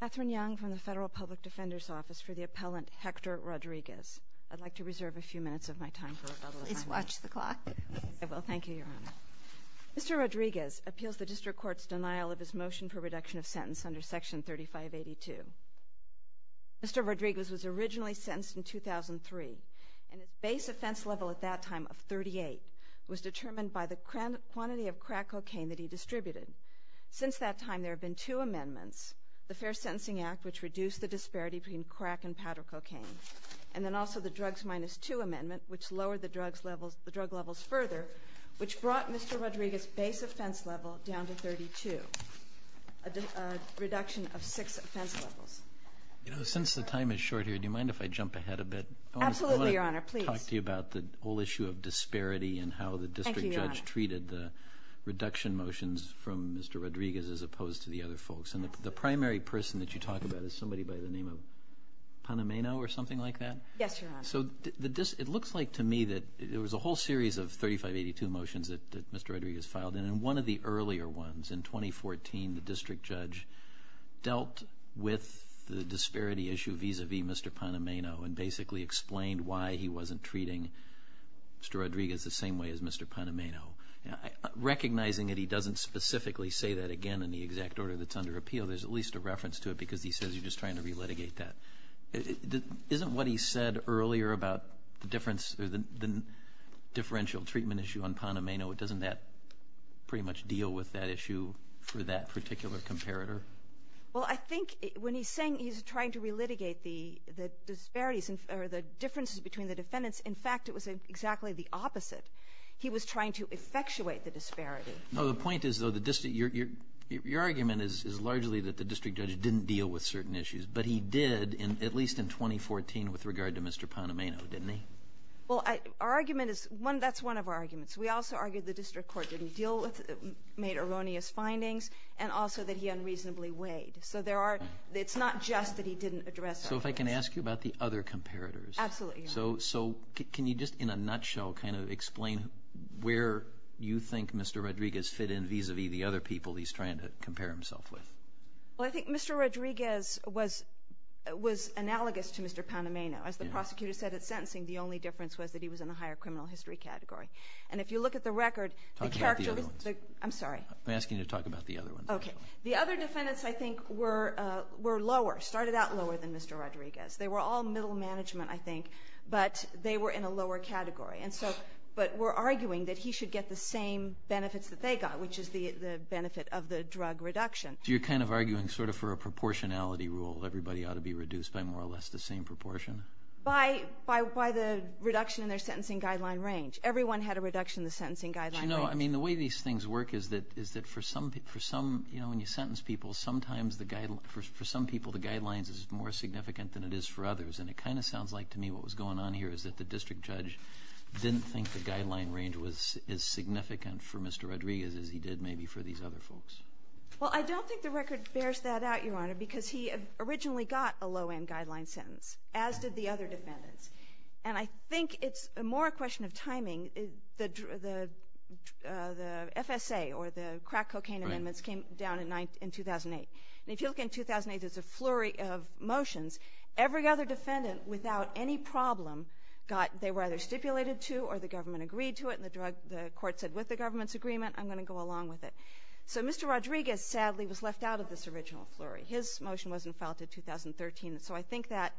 Mr. Rodriguez appeals the District Court's denial of his motion for reduction of sentence under Section 3582. Mr. Rodriguez was originally sentenced in 2003, and his base offense level at that time of 38 was determined by the quantity of crack cocaine that he distributed. Since that time, there have been two amendments, the Fair Sentencing Act, which reduced the disparity between crack and powder cocaine, and then also the Drugs Minus Two Amendment, which lowered the drug levels further, which brought Mr. Rodriguez's base offense level down to 32, a reduction of six offense levels. You know, since the time is short here, do you mind if I jump ahead a bit? Absolutely, Your Honor, please. I want to talk to you about the whole issue of disparity and how the district judge treated the reduction motions from Mr. Rodriguez as opposed to the other folks. And the primary person that you talk about is somebody by the name of Panameno or something like that? Yes, Your Honor. So, it looks like to me that there was a whole series of 3582 motions that Mr. Rodriguez filed, and one of the earlier ones, in 2014, the district judge dealt with the disparity issue vis-a-vis Mr. Panameno and basically explained why he wasn't treating Mr. Rodriguez the same way as Mr. Panameno. Recognizing that he doesn't specifically say that again in the exact order that's under appeal, there's at least a reference to it because he says you're just trying to re-litigate that. Isn't what he said earlier about the difference or the differential treatment issue on Panameno, doesn't that pretty much deal with that issue for that particular comparator? Well, I think when he's saying he's trying to re-litigate the disparities or the differences between the defendants, in fact, it was exactly the opposite. He was trying to effectuate the disparity. No, the point is, though, your argument is largely that the district judge didn't deal with certain issues. But he did, at least in 2014, with regard to Mr. Panameno, didn't he? Well, our argument is, that's one of our arguments. We also argued the district court didn't deal with, made erroneous findings, and also that he unreasonably weighed. So there are, it's not just that he didn't address all of this. So if I can ask you about the other comparators. Absolutely. So can you just, in a nutshell, kind of explain where you think Mr. Rodriguez fit in vis-a-vis the other people he's trying to compare himself with? Well, I think Mr. Rodriguez was analogous to Mr. Panameno. As the prosecutor said at sentencing, the only difference was that he was in the higher criminal history category. And if you look at the record, the character of the... Talk about the other ones. I'm sorry. I'm asking you to talk about the other ones. Okay. The other defendants, I think, were lower, started out lower than Mr. Rodriguez. They were all middle management, I think, but they were in a lower category. And so, but we're arguing that he should get the same benefits that they got, which is the benefit of the drug reduction. So you're kind of arguing sort of for a proportionality rule, everybody ought to be reduced by more or less the same proportion? By the reduction in their sentencing guideline range. Everyone had a reduction in the sentencing guideline range. But you know, I mean, the way these things work is that for some, you know, when you for others. And it kind of sounds like to me what was going on here is that the district judge didn't think the guideline range was as significant for Mr. Rodriguez as he did maybe for these other folks. Well, I don't think the record bears that out, Your Honor, because he originally got a low-end guideline sentence, as did the other defendants. And I think it's more a question of timing. The FSA, or the crack cocaine amendments, came down in 2008. And if you look in 2008, there's a flurry of motions. Every other defendant, without any problem, got, they were either stipulated to or the government agreed to it. And the court said, with the government's agreement, I'm going to go along with it. So Mr. Rodriguez, sadly, was left out of this original flurry. His motion wasn't filed until 2013. So I think that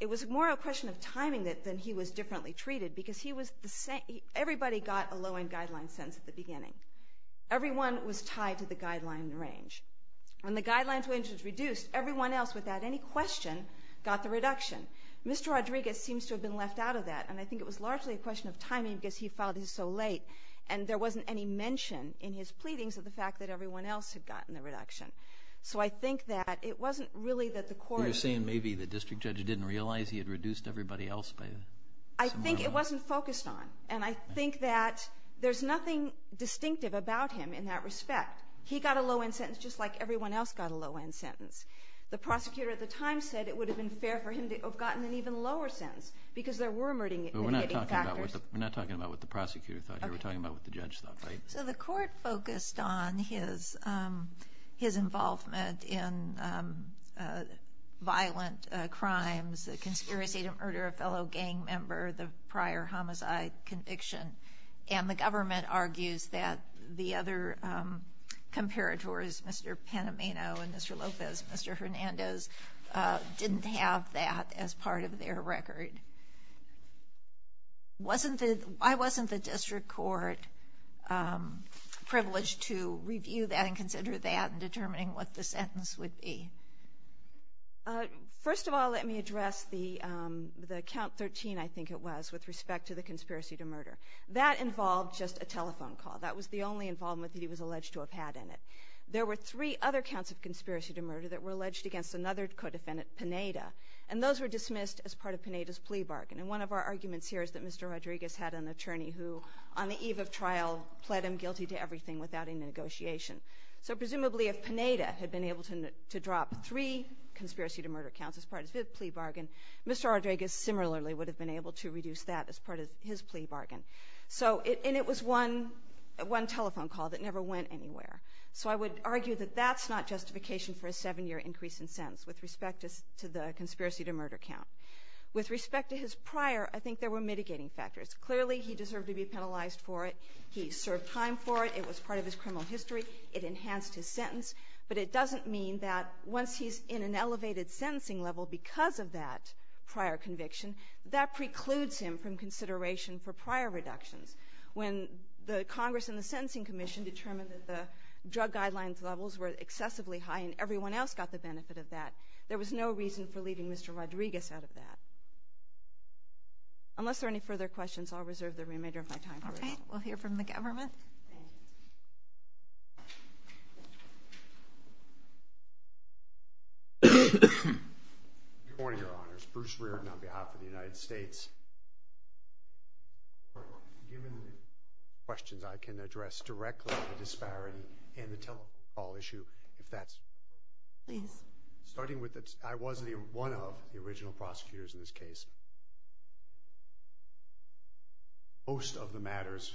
it was more a question of timing than he was differently treated. Because he was the same, everybody got a low-end guideline sentence at the beginning. Everyone was tied to the guideline range. When the guideline range was reduced, everyone else, without any question, got the reduction. Mr. Rodriguez seems to have been left out of that. And I think it was largely a question of timing, because he filed his so late. And there wasn't any mention in his pleadings of the fact that everyone else had gotten the reduction. So I think that it wasn't really that the court... You're saying maybe the district judge didn't realize he had reduced everybody else by... I think it wasn't focused on. And I think that there's nothing distinctive about him in that respect. He got a low-end sentence, just like everyone else got a low-end sentence. The prosecutor at the time said it would have been fair for him to have gotten an even lower sentence, because there were murdering and hitting factors. But we're not talking about what the prosecutor thought. We're talking about what the judge thought, right? So the court focused on his involvement in violent crimes, the conspiracy to murder a lot of the time. And the court didn't consider that. And I think it's a great question. Why wasn't the district court privileged to review that and consider that in determining what the sentence would be? First of all, let me address the count 13, I think it was, with respect to the conspiracy to murder. That involved just a telephone call. That was the only involvement that he was alleged to have had in it. There were three other counts of conspiracy to murder that were alleged against another co-defendant, Pineda. And those were dismissed as part of Pineda's plea bargain. And one of our arguments here is that Mr. Rodriguez had an attorney who, on the eve of trial, pled him guilty to everything without any negotiation. So presumably if Pineda had been able to drop three conspiracy to murder counts as part of his plea bargain, Mr. Rodriguez similarly would have been able to reduce that as part of his plea bargain. And it was one telephone call that never went anywhere. So I would argue that that's not justification for a seven-year increase in sentence with respect to the conspiracy to murder count. With respect to his prior, I think there were mitigating factors. Clearly he deserved to be penalized for it. He served time for it. It was part of his criminal history. It enhanced his sentence. But it doesn't mean that once he's in an elevated sentencing level because of that prior conviction, that precludes him from consideration for prior reductions. When the Congress and the Sentencing Commission determined that the drug guidelines levels were excessively high and everyone else got the benefit of that, there was no reason for leaving Mr. Rodriguez out of that. Unless there are any further questions, I'll reserve the remainder of my time for it. All right. We'll hear from the government. Good morning, Your Honors. Bruce Reardon on behalf of the United States. Given the questions I can address directly on the disparity and the telephone call issue, if that's okay. I was one of the original prosecutors in this case. Most of the matters,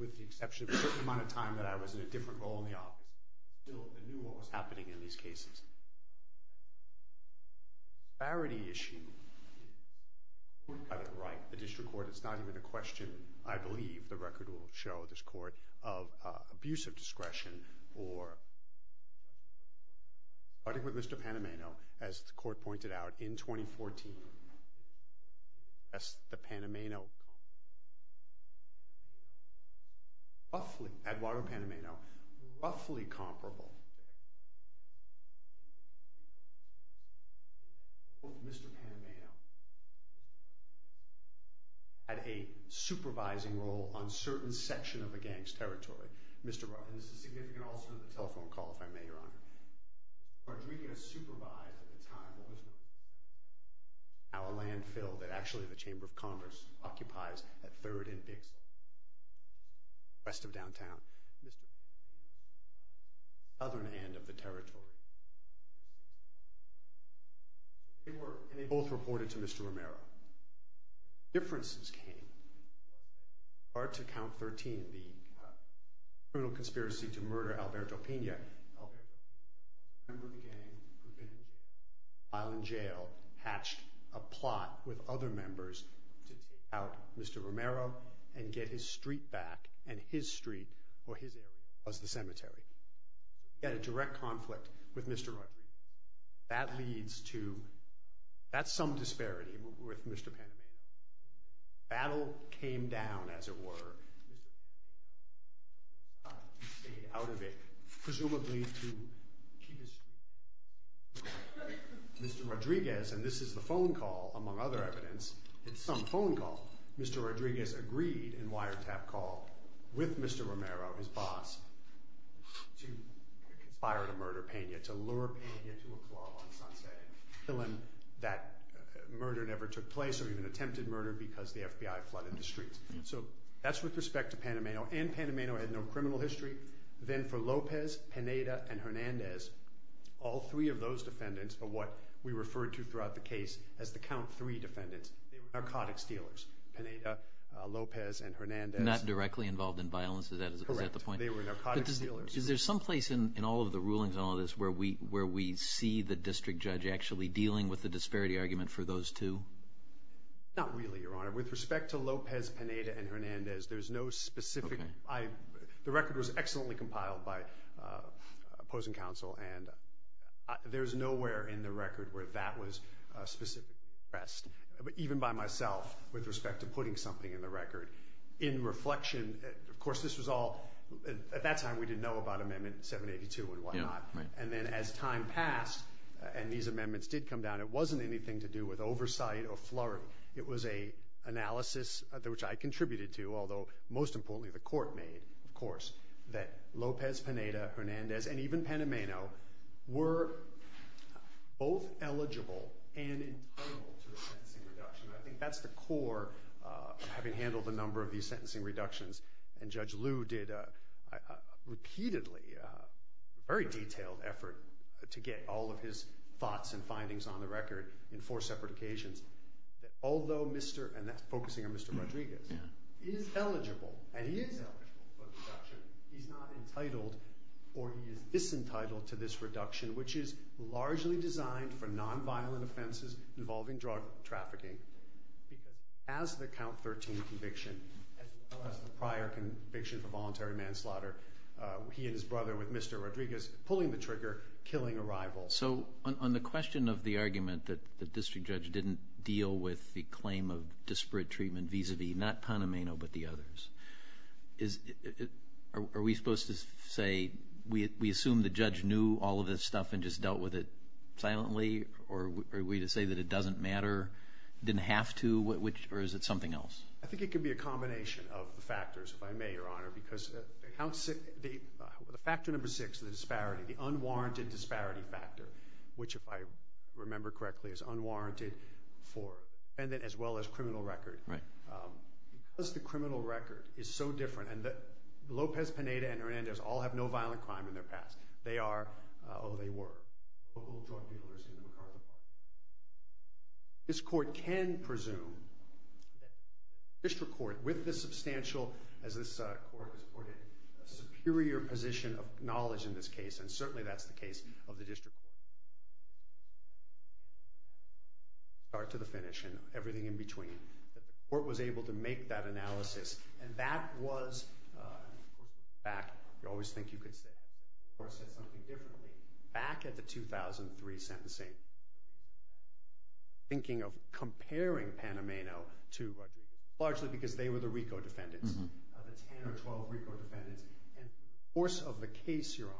with the exception of a certain amount of time that I was in a different role in the office, I still knew what was happening in these cases. The disparity issue, I would write the district court. It's not even a question. I believe the record will show this court of abuse of discretion for, starting with Mr. Panameno, as the court pointed out, in 2014. That's the Panameno. Roughly, Eduardo Panameno, roughly comparable. Mr. Panameno had a supervising role on certain sections of the gang's territory. Mr. Reardon, this is significant also in the telephone call, if I may, Your Honor. Rodriguez supervised, at the time, what was known as a landfill that actually the Chamber of Congress occupies at 3rd and Big City, west of downtown. Southern end of the territory. They both reported to Mr. Romero. Differences came. Prior to Count 13, the criminal conspiracy to murder Alberto Pina, a member of the gang who had been in jail, while in jail, hatched a plot with other members to take out Mr. Romero and get his street back, and his street, or his area, was the cemetery. He had a direct conflict with Mr. Rodriguez. That leads to, that's some disparity with Mr. Panameno. Battle came down, as it were. He stayed out of it, presumably to keep his street. Mr. Rodriguez, and this is the phone call, among other evidence, it's some phone call, Mr. Rodriguez agreed, in wiretap call, with Mr. Romero, his boss, to conspire to murder Pina, to lure Pina to a club on Sunset Hill, and that murder never took place, or even attempted murder, because the FBI flooded the streets. So that's with respect to Panameno. And Panameno had no criminal history. Then for Lopez, Pineda, and Hernandez, all three of those defendants are what we referred to throughout the case as the Count 3 defendants. They were narcotics dealers. Pineda, Lopez, and Hernandez. Not directly involved in violence, is that the point? Correct. They were narcotics dealers. Is there some place in all of the rulings and all of this where we see the district judge actually dealing with the disparity argument for those two? Not really, Your Honor. With respect to Lopez, Pineda, and Hernandez, there's no specific... Okay. The record was excellently compiled by opposing counsel, and there's nowhere in the record where that was specifically addressed. But even by myself, with respect to putting something in the record, in reflection, of course, this was all... At that time, we didn't know about Amendment 782 and whatnot. Yeah, right. And then as time passed, and these amendments did come down, it wasn't anything to do with oversight or flurry. It was an analysis, which I contributed to, although most importantly the court made, of course, that Lopez, Pineda, Hernandez, and even Panameno were both eligible and entitled to a sentencing reduction. I think that's the core of having handled the number of these sentencing reductions. And Judge Liu did a repeatedly, very detailed effort to get all of his thoughts and findings on the record in four separate occasions. Although Mr., and that's focusing on Mr. Rodriguez, is eligible, and he is eligible for the reduction, he's not entitled or he is disentitled to this reduction, which is largely designed for nonviolent offenses involving drug trafficking. Because as the Count 13 conviction, as well as the prior conviction for voluntary manslaughter, he and his brother with Mr. Rodriguez pulling the trigger, killing a rival. So on the question of the argument that the district judge didn't deal with the claim of disparate treatment vis-a-vis, not Panameno, but the others, are we supposed to say, we assume the judge knew all of this stuff and just dealt with it silently, or are we to say that it doesn't matter, didn't have to, or is it something else? I think it could be a combination of the factors, if I may, Your Honor, because the factor number six, the disparity, the unwarranted disparity factor, which if I remember correctly is unwarranted for defendant as well as criminal record. Right. Because the criminal record is so different, and Lopez, Pineda, and Hernandez all have no violent crime in their past. They are, although they were, local drug dealers in the McCarthy Park. This court can presume that the district court, with the substantial, as this court has reported, superior position of knowledge in this case, and certainly that's the case of the district court, start to the finish and everything in between, that the court was able to make that analysis, and that was, and the court came back, you always think you could say that, back at the 2003 sentencing, thinking of comparing Panameno to Rodriguez, largely because they were the RICO defendants, the 10 or 12 RICO defendants, and the course of the case, Your Honor,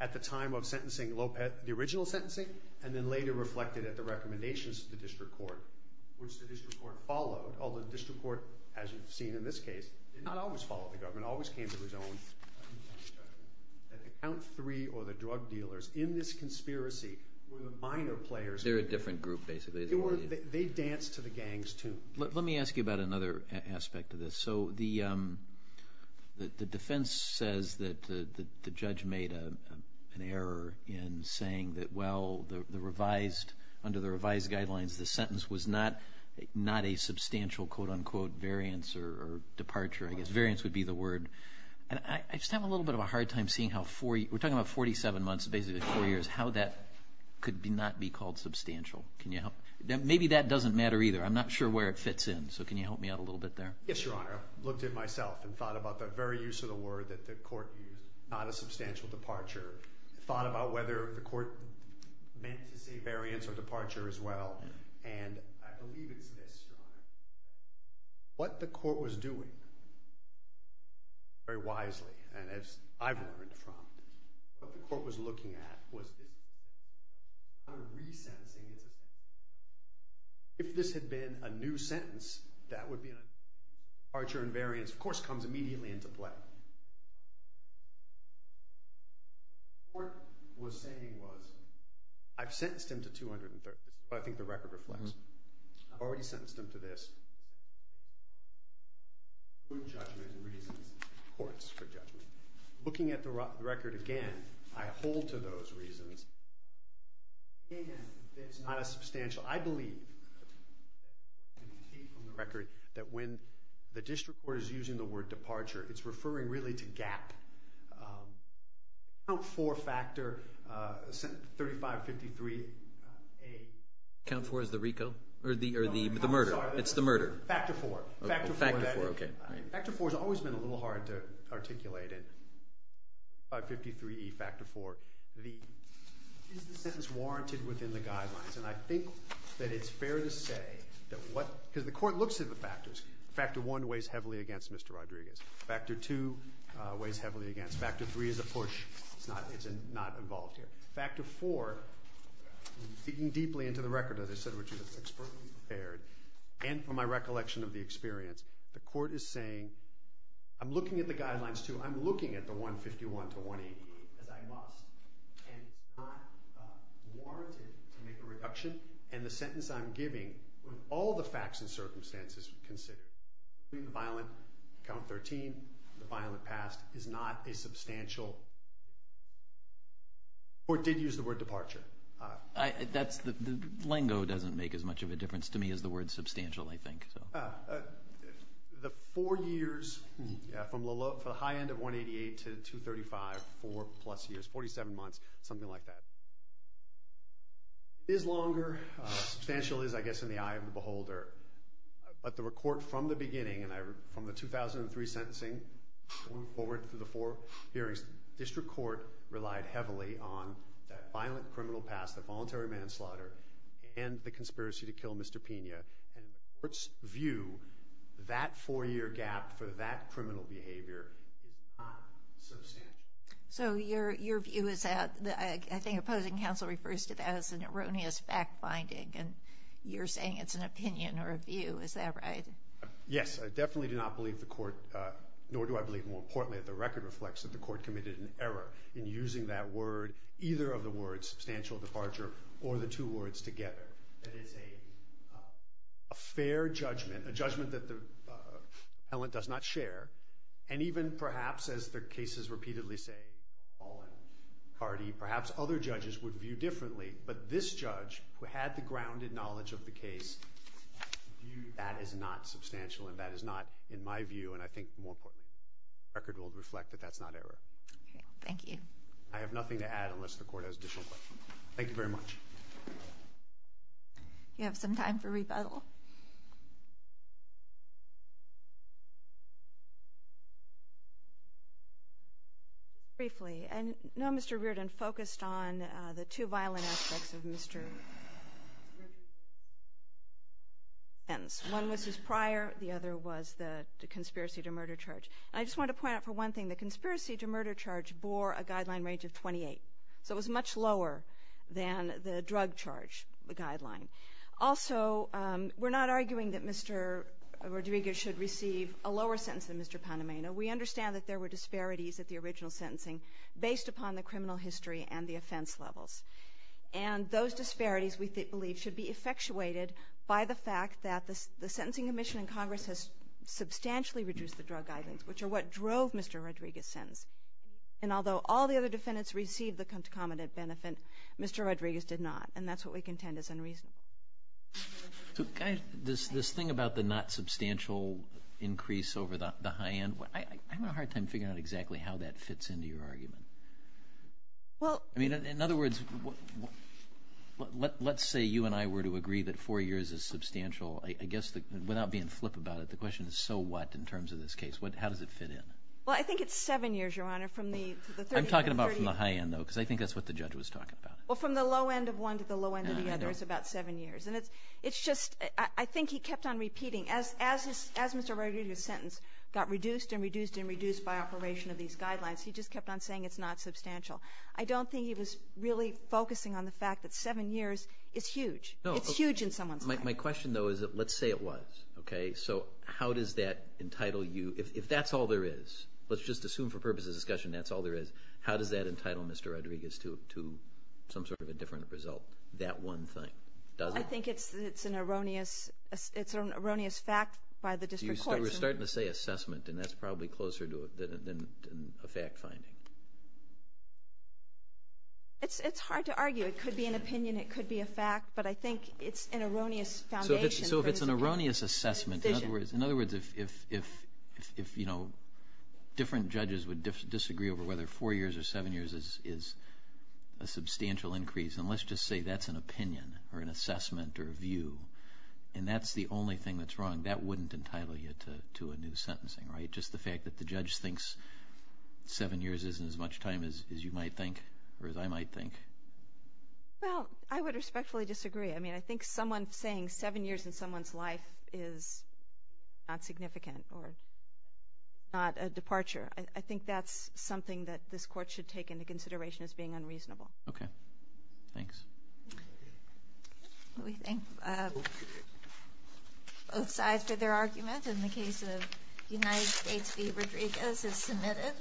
at the time of sentencing Lopez, the original sentencing, and then later reflected at the recommendations of the district court, which the district court followed, although the district court, as you've seen in this case, did not always follow the government, always came to his own, that account three or the drug dealers in this conspiracy were the minor players. They're a different group, basically. They danced to the gang's tune. Let me ask you about another aspect of this. So the defense says that the judge made an error in saying that, well, the revised, under the revised guidelines, the sentence was not a substantial, quote, unquote, variance or departure, I guess. Variance would be the word. And I just have a little bit of a hard time seeing how four, we're talking about 47 months, basically four years, how that could not be called substantial. Can you help? Maybe that doesn't matter either. I'm not sure where it fits in, so can you help me out a little bit there? Yes, Your Honor. I looked it myself and thought about the very use of the word that the court used, not a substantial departure. I thought about whether the court meant to say variance or departure as well. And I believe it's this, Your Honor. What the court was doing, very wisely, and as I've learned from it, what the court was looking at was this. Resentencing is a sentence. If this had been a new sentence, that would be a new sentence. Departure and variance, of course, comes immediately into play. What the court was saying was, I've sentenced him to 230. That's what I think the record reflects. I've already sentenced him to this. Good judgment reasons, courts for judgment. Looking at the record again, I hold to those reasons. Again, it's not a substantial. I believe from the record that when the district court is using the word departure, it's referring really to gap. Count four factor, 3553A. Count four is the RICO? Or the murder? It's the murder. Factor four. Factor four, okay. Factor four has always been a little hard to articulate. 553E, factor four. Is the sentence warranted within the guidelines? And I think that it's fair to say that what the court looks at the factors. Factor one weighs heavily against Mr. Rodriguez. Factor two weighs heavily against him. Factor three is a push. It's not involved here. Factor four, digging deeply into the record, as I said, which is expertly prepared, and from my recollection of the experience, the court is saying, I'm looking at the guidelines too. I'm looking at the 151 to 180 as I must. And it's not warranted to make a reduction. And the sentence I'm giving with all the facts and circumstances considered, including the violent count 13, the violent past, is not a substantial. The court did use the word departure. The lingo doesn't make as much of a difference to me as the word substantial, I think. The four years from the high end of 188 to 235, four plus years, 47 months, something like that, is longer. Substantial is, I guess, in the eye of the beholder. But the court from the beginning, and from the 2003 sentencing, moving forward through the four hearings, the district court relied heavily on that violent criminal past, the voluntary manslaughter, and the conspiracy to kill Mr. Pena. And the court's view, that four-year gap for that criminal behavior is not substantial. So your view is that I think opposing counsel refers to that as an erroneous fact-finding, and you're saying it's an opinion or a view. Is that right? Yes. I definitely do not believe the court, nor do I believe more importantly that the record reflects that the court committed an error in using that word, either of the words substantial, departure, or the two words together. That is a fair judgment, a judgment that the appellant does not share, and even perhaps, as the cases repeatedly say, Paul and Hardy, perhaps other judges would view differently, but this judge, who had the grounded knowledge of the case, viewed that as not substantial, and that is not, in my view, and I think more importantly, the record will reflect that that's not error. Okay. Thank you. I have nothing to add unless the court has additional questions. Thank you very much. Do you have some time for rebuttal? Briefly, I know Mr. Reardon focused on the two violent aspects of Mr. Rodriguez's sentence. One was his prior, the other was the conspiracy to murder charge, and I just wanted to point out for one thing, the conspiracy to murder charge bore a guideline range of 28, so it was much lower than the drug charge guideline. Also, we're not arguing that Mr. Rodriguez should receive a lower sentence than Mr. Panameno. We understand that there were disparities at the original sentencing based upon the criminal history and the offense levels, and those disparities, we believe, should be effectuated by the fact that the sentencing commission in Congress has substantially reduced the drug guidelines, which are what drove Mr. Rodriguez's sentence, and although all the other defendants received the concomitant benefit, Mr. Rodriguez did not, and that's what we contend is unreasonable. This thing about the not substantial increase over the high end, I have a hard time figuring out exactly how that fits into your argument. In other words, let's say you and I were to agree that four years is substantial. I guess without being flip about it, the question is so what in terms of this case? How does it fit in? Well, I think it's seven years, Your Honor. I'm talking about from the high end, though, because I think that's what the judge was talking about. Well, from the low end of one to the low end of the other is about seven years, and it's just I think he kept on repeating, as Mr. Rodriguez's sentence got reduced and reduced and reduced by operation of these guidelines, he just kept on saying it's not substantial. I don't think he was really focusing on the fact that seven years is huge. It's huge in someone's mind. My question, though, is let's say it was. So how does that entitle you, if that's all there is, let's just assume for purposes of discussion that's all there is, how does that entitle Mr. Rodriguez to some sort of a different result, that one thing? I think it's an erroneous fact by the district courts. We're starting to say assessment, and that's probably closer than a fact finding. It's hard to argue. It could be an opinion. It could be a fact. But I think it's an erroneous foundation. So if it's an erroneous assessment, in other words, if different judges would disagree over whether four years or seven years is a substantial increase, and let's just say that's an opinion or an assessment or a view, and that's the only thing that's wrong, that wouldn't entitle you to a new sentencing, right, just the fact that the judge thinks seven years isn't as much time as you might think or as I might think? Well, I would respectfully disagree. I mean, I think someone saying seven years in someone's life is not significant or not a departure. I think that's something that this court should take into consideration as being unreasonable. Okay. Thanks. We thank both sides for their arguments. And the case of United States v. Rodriguez is submitted.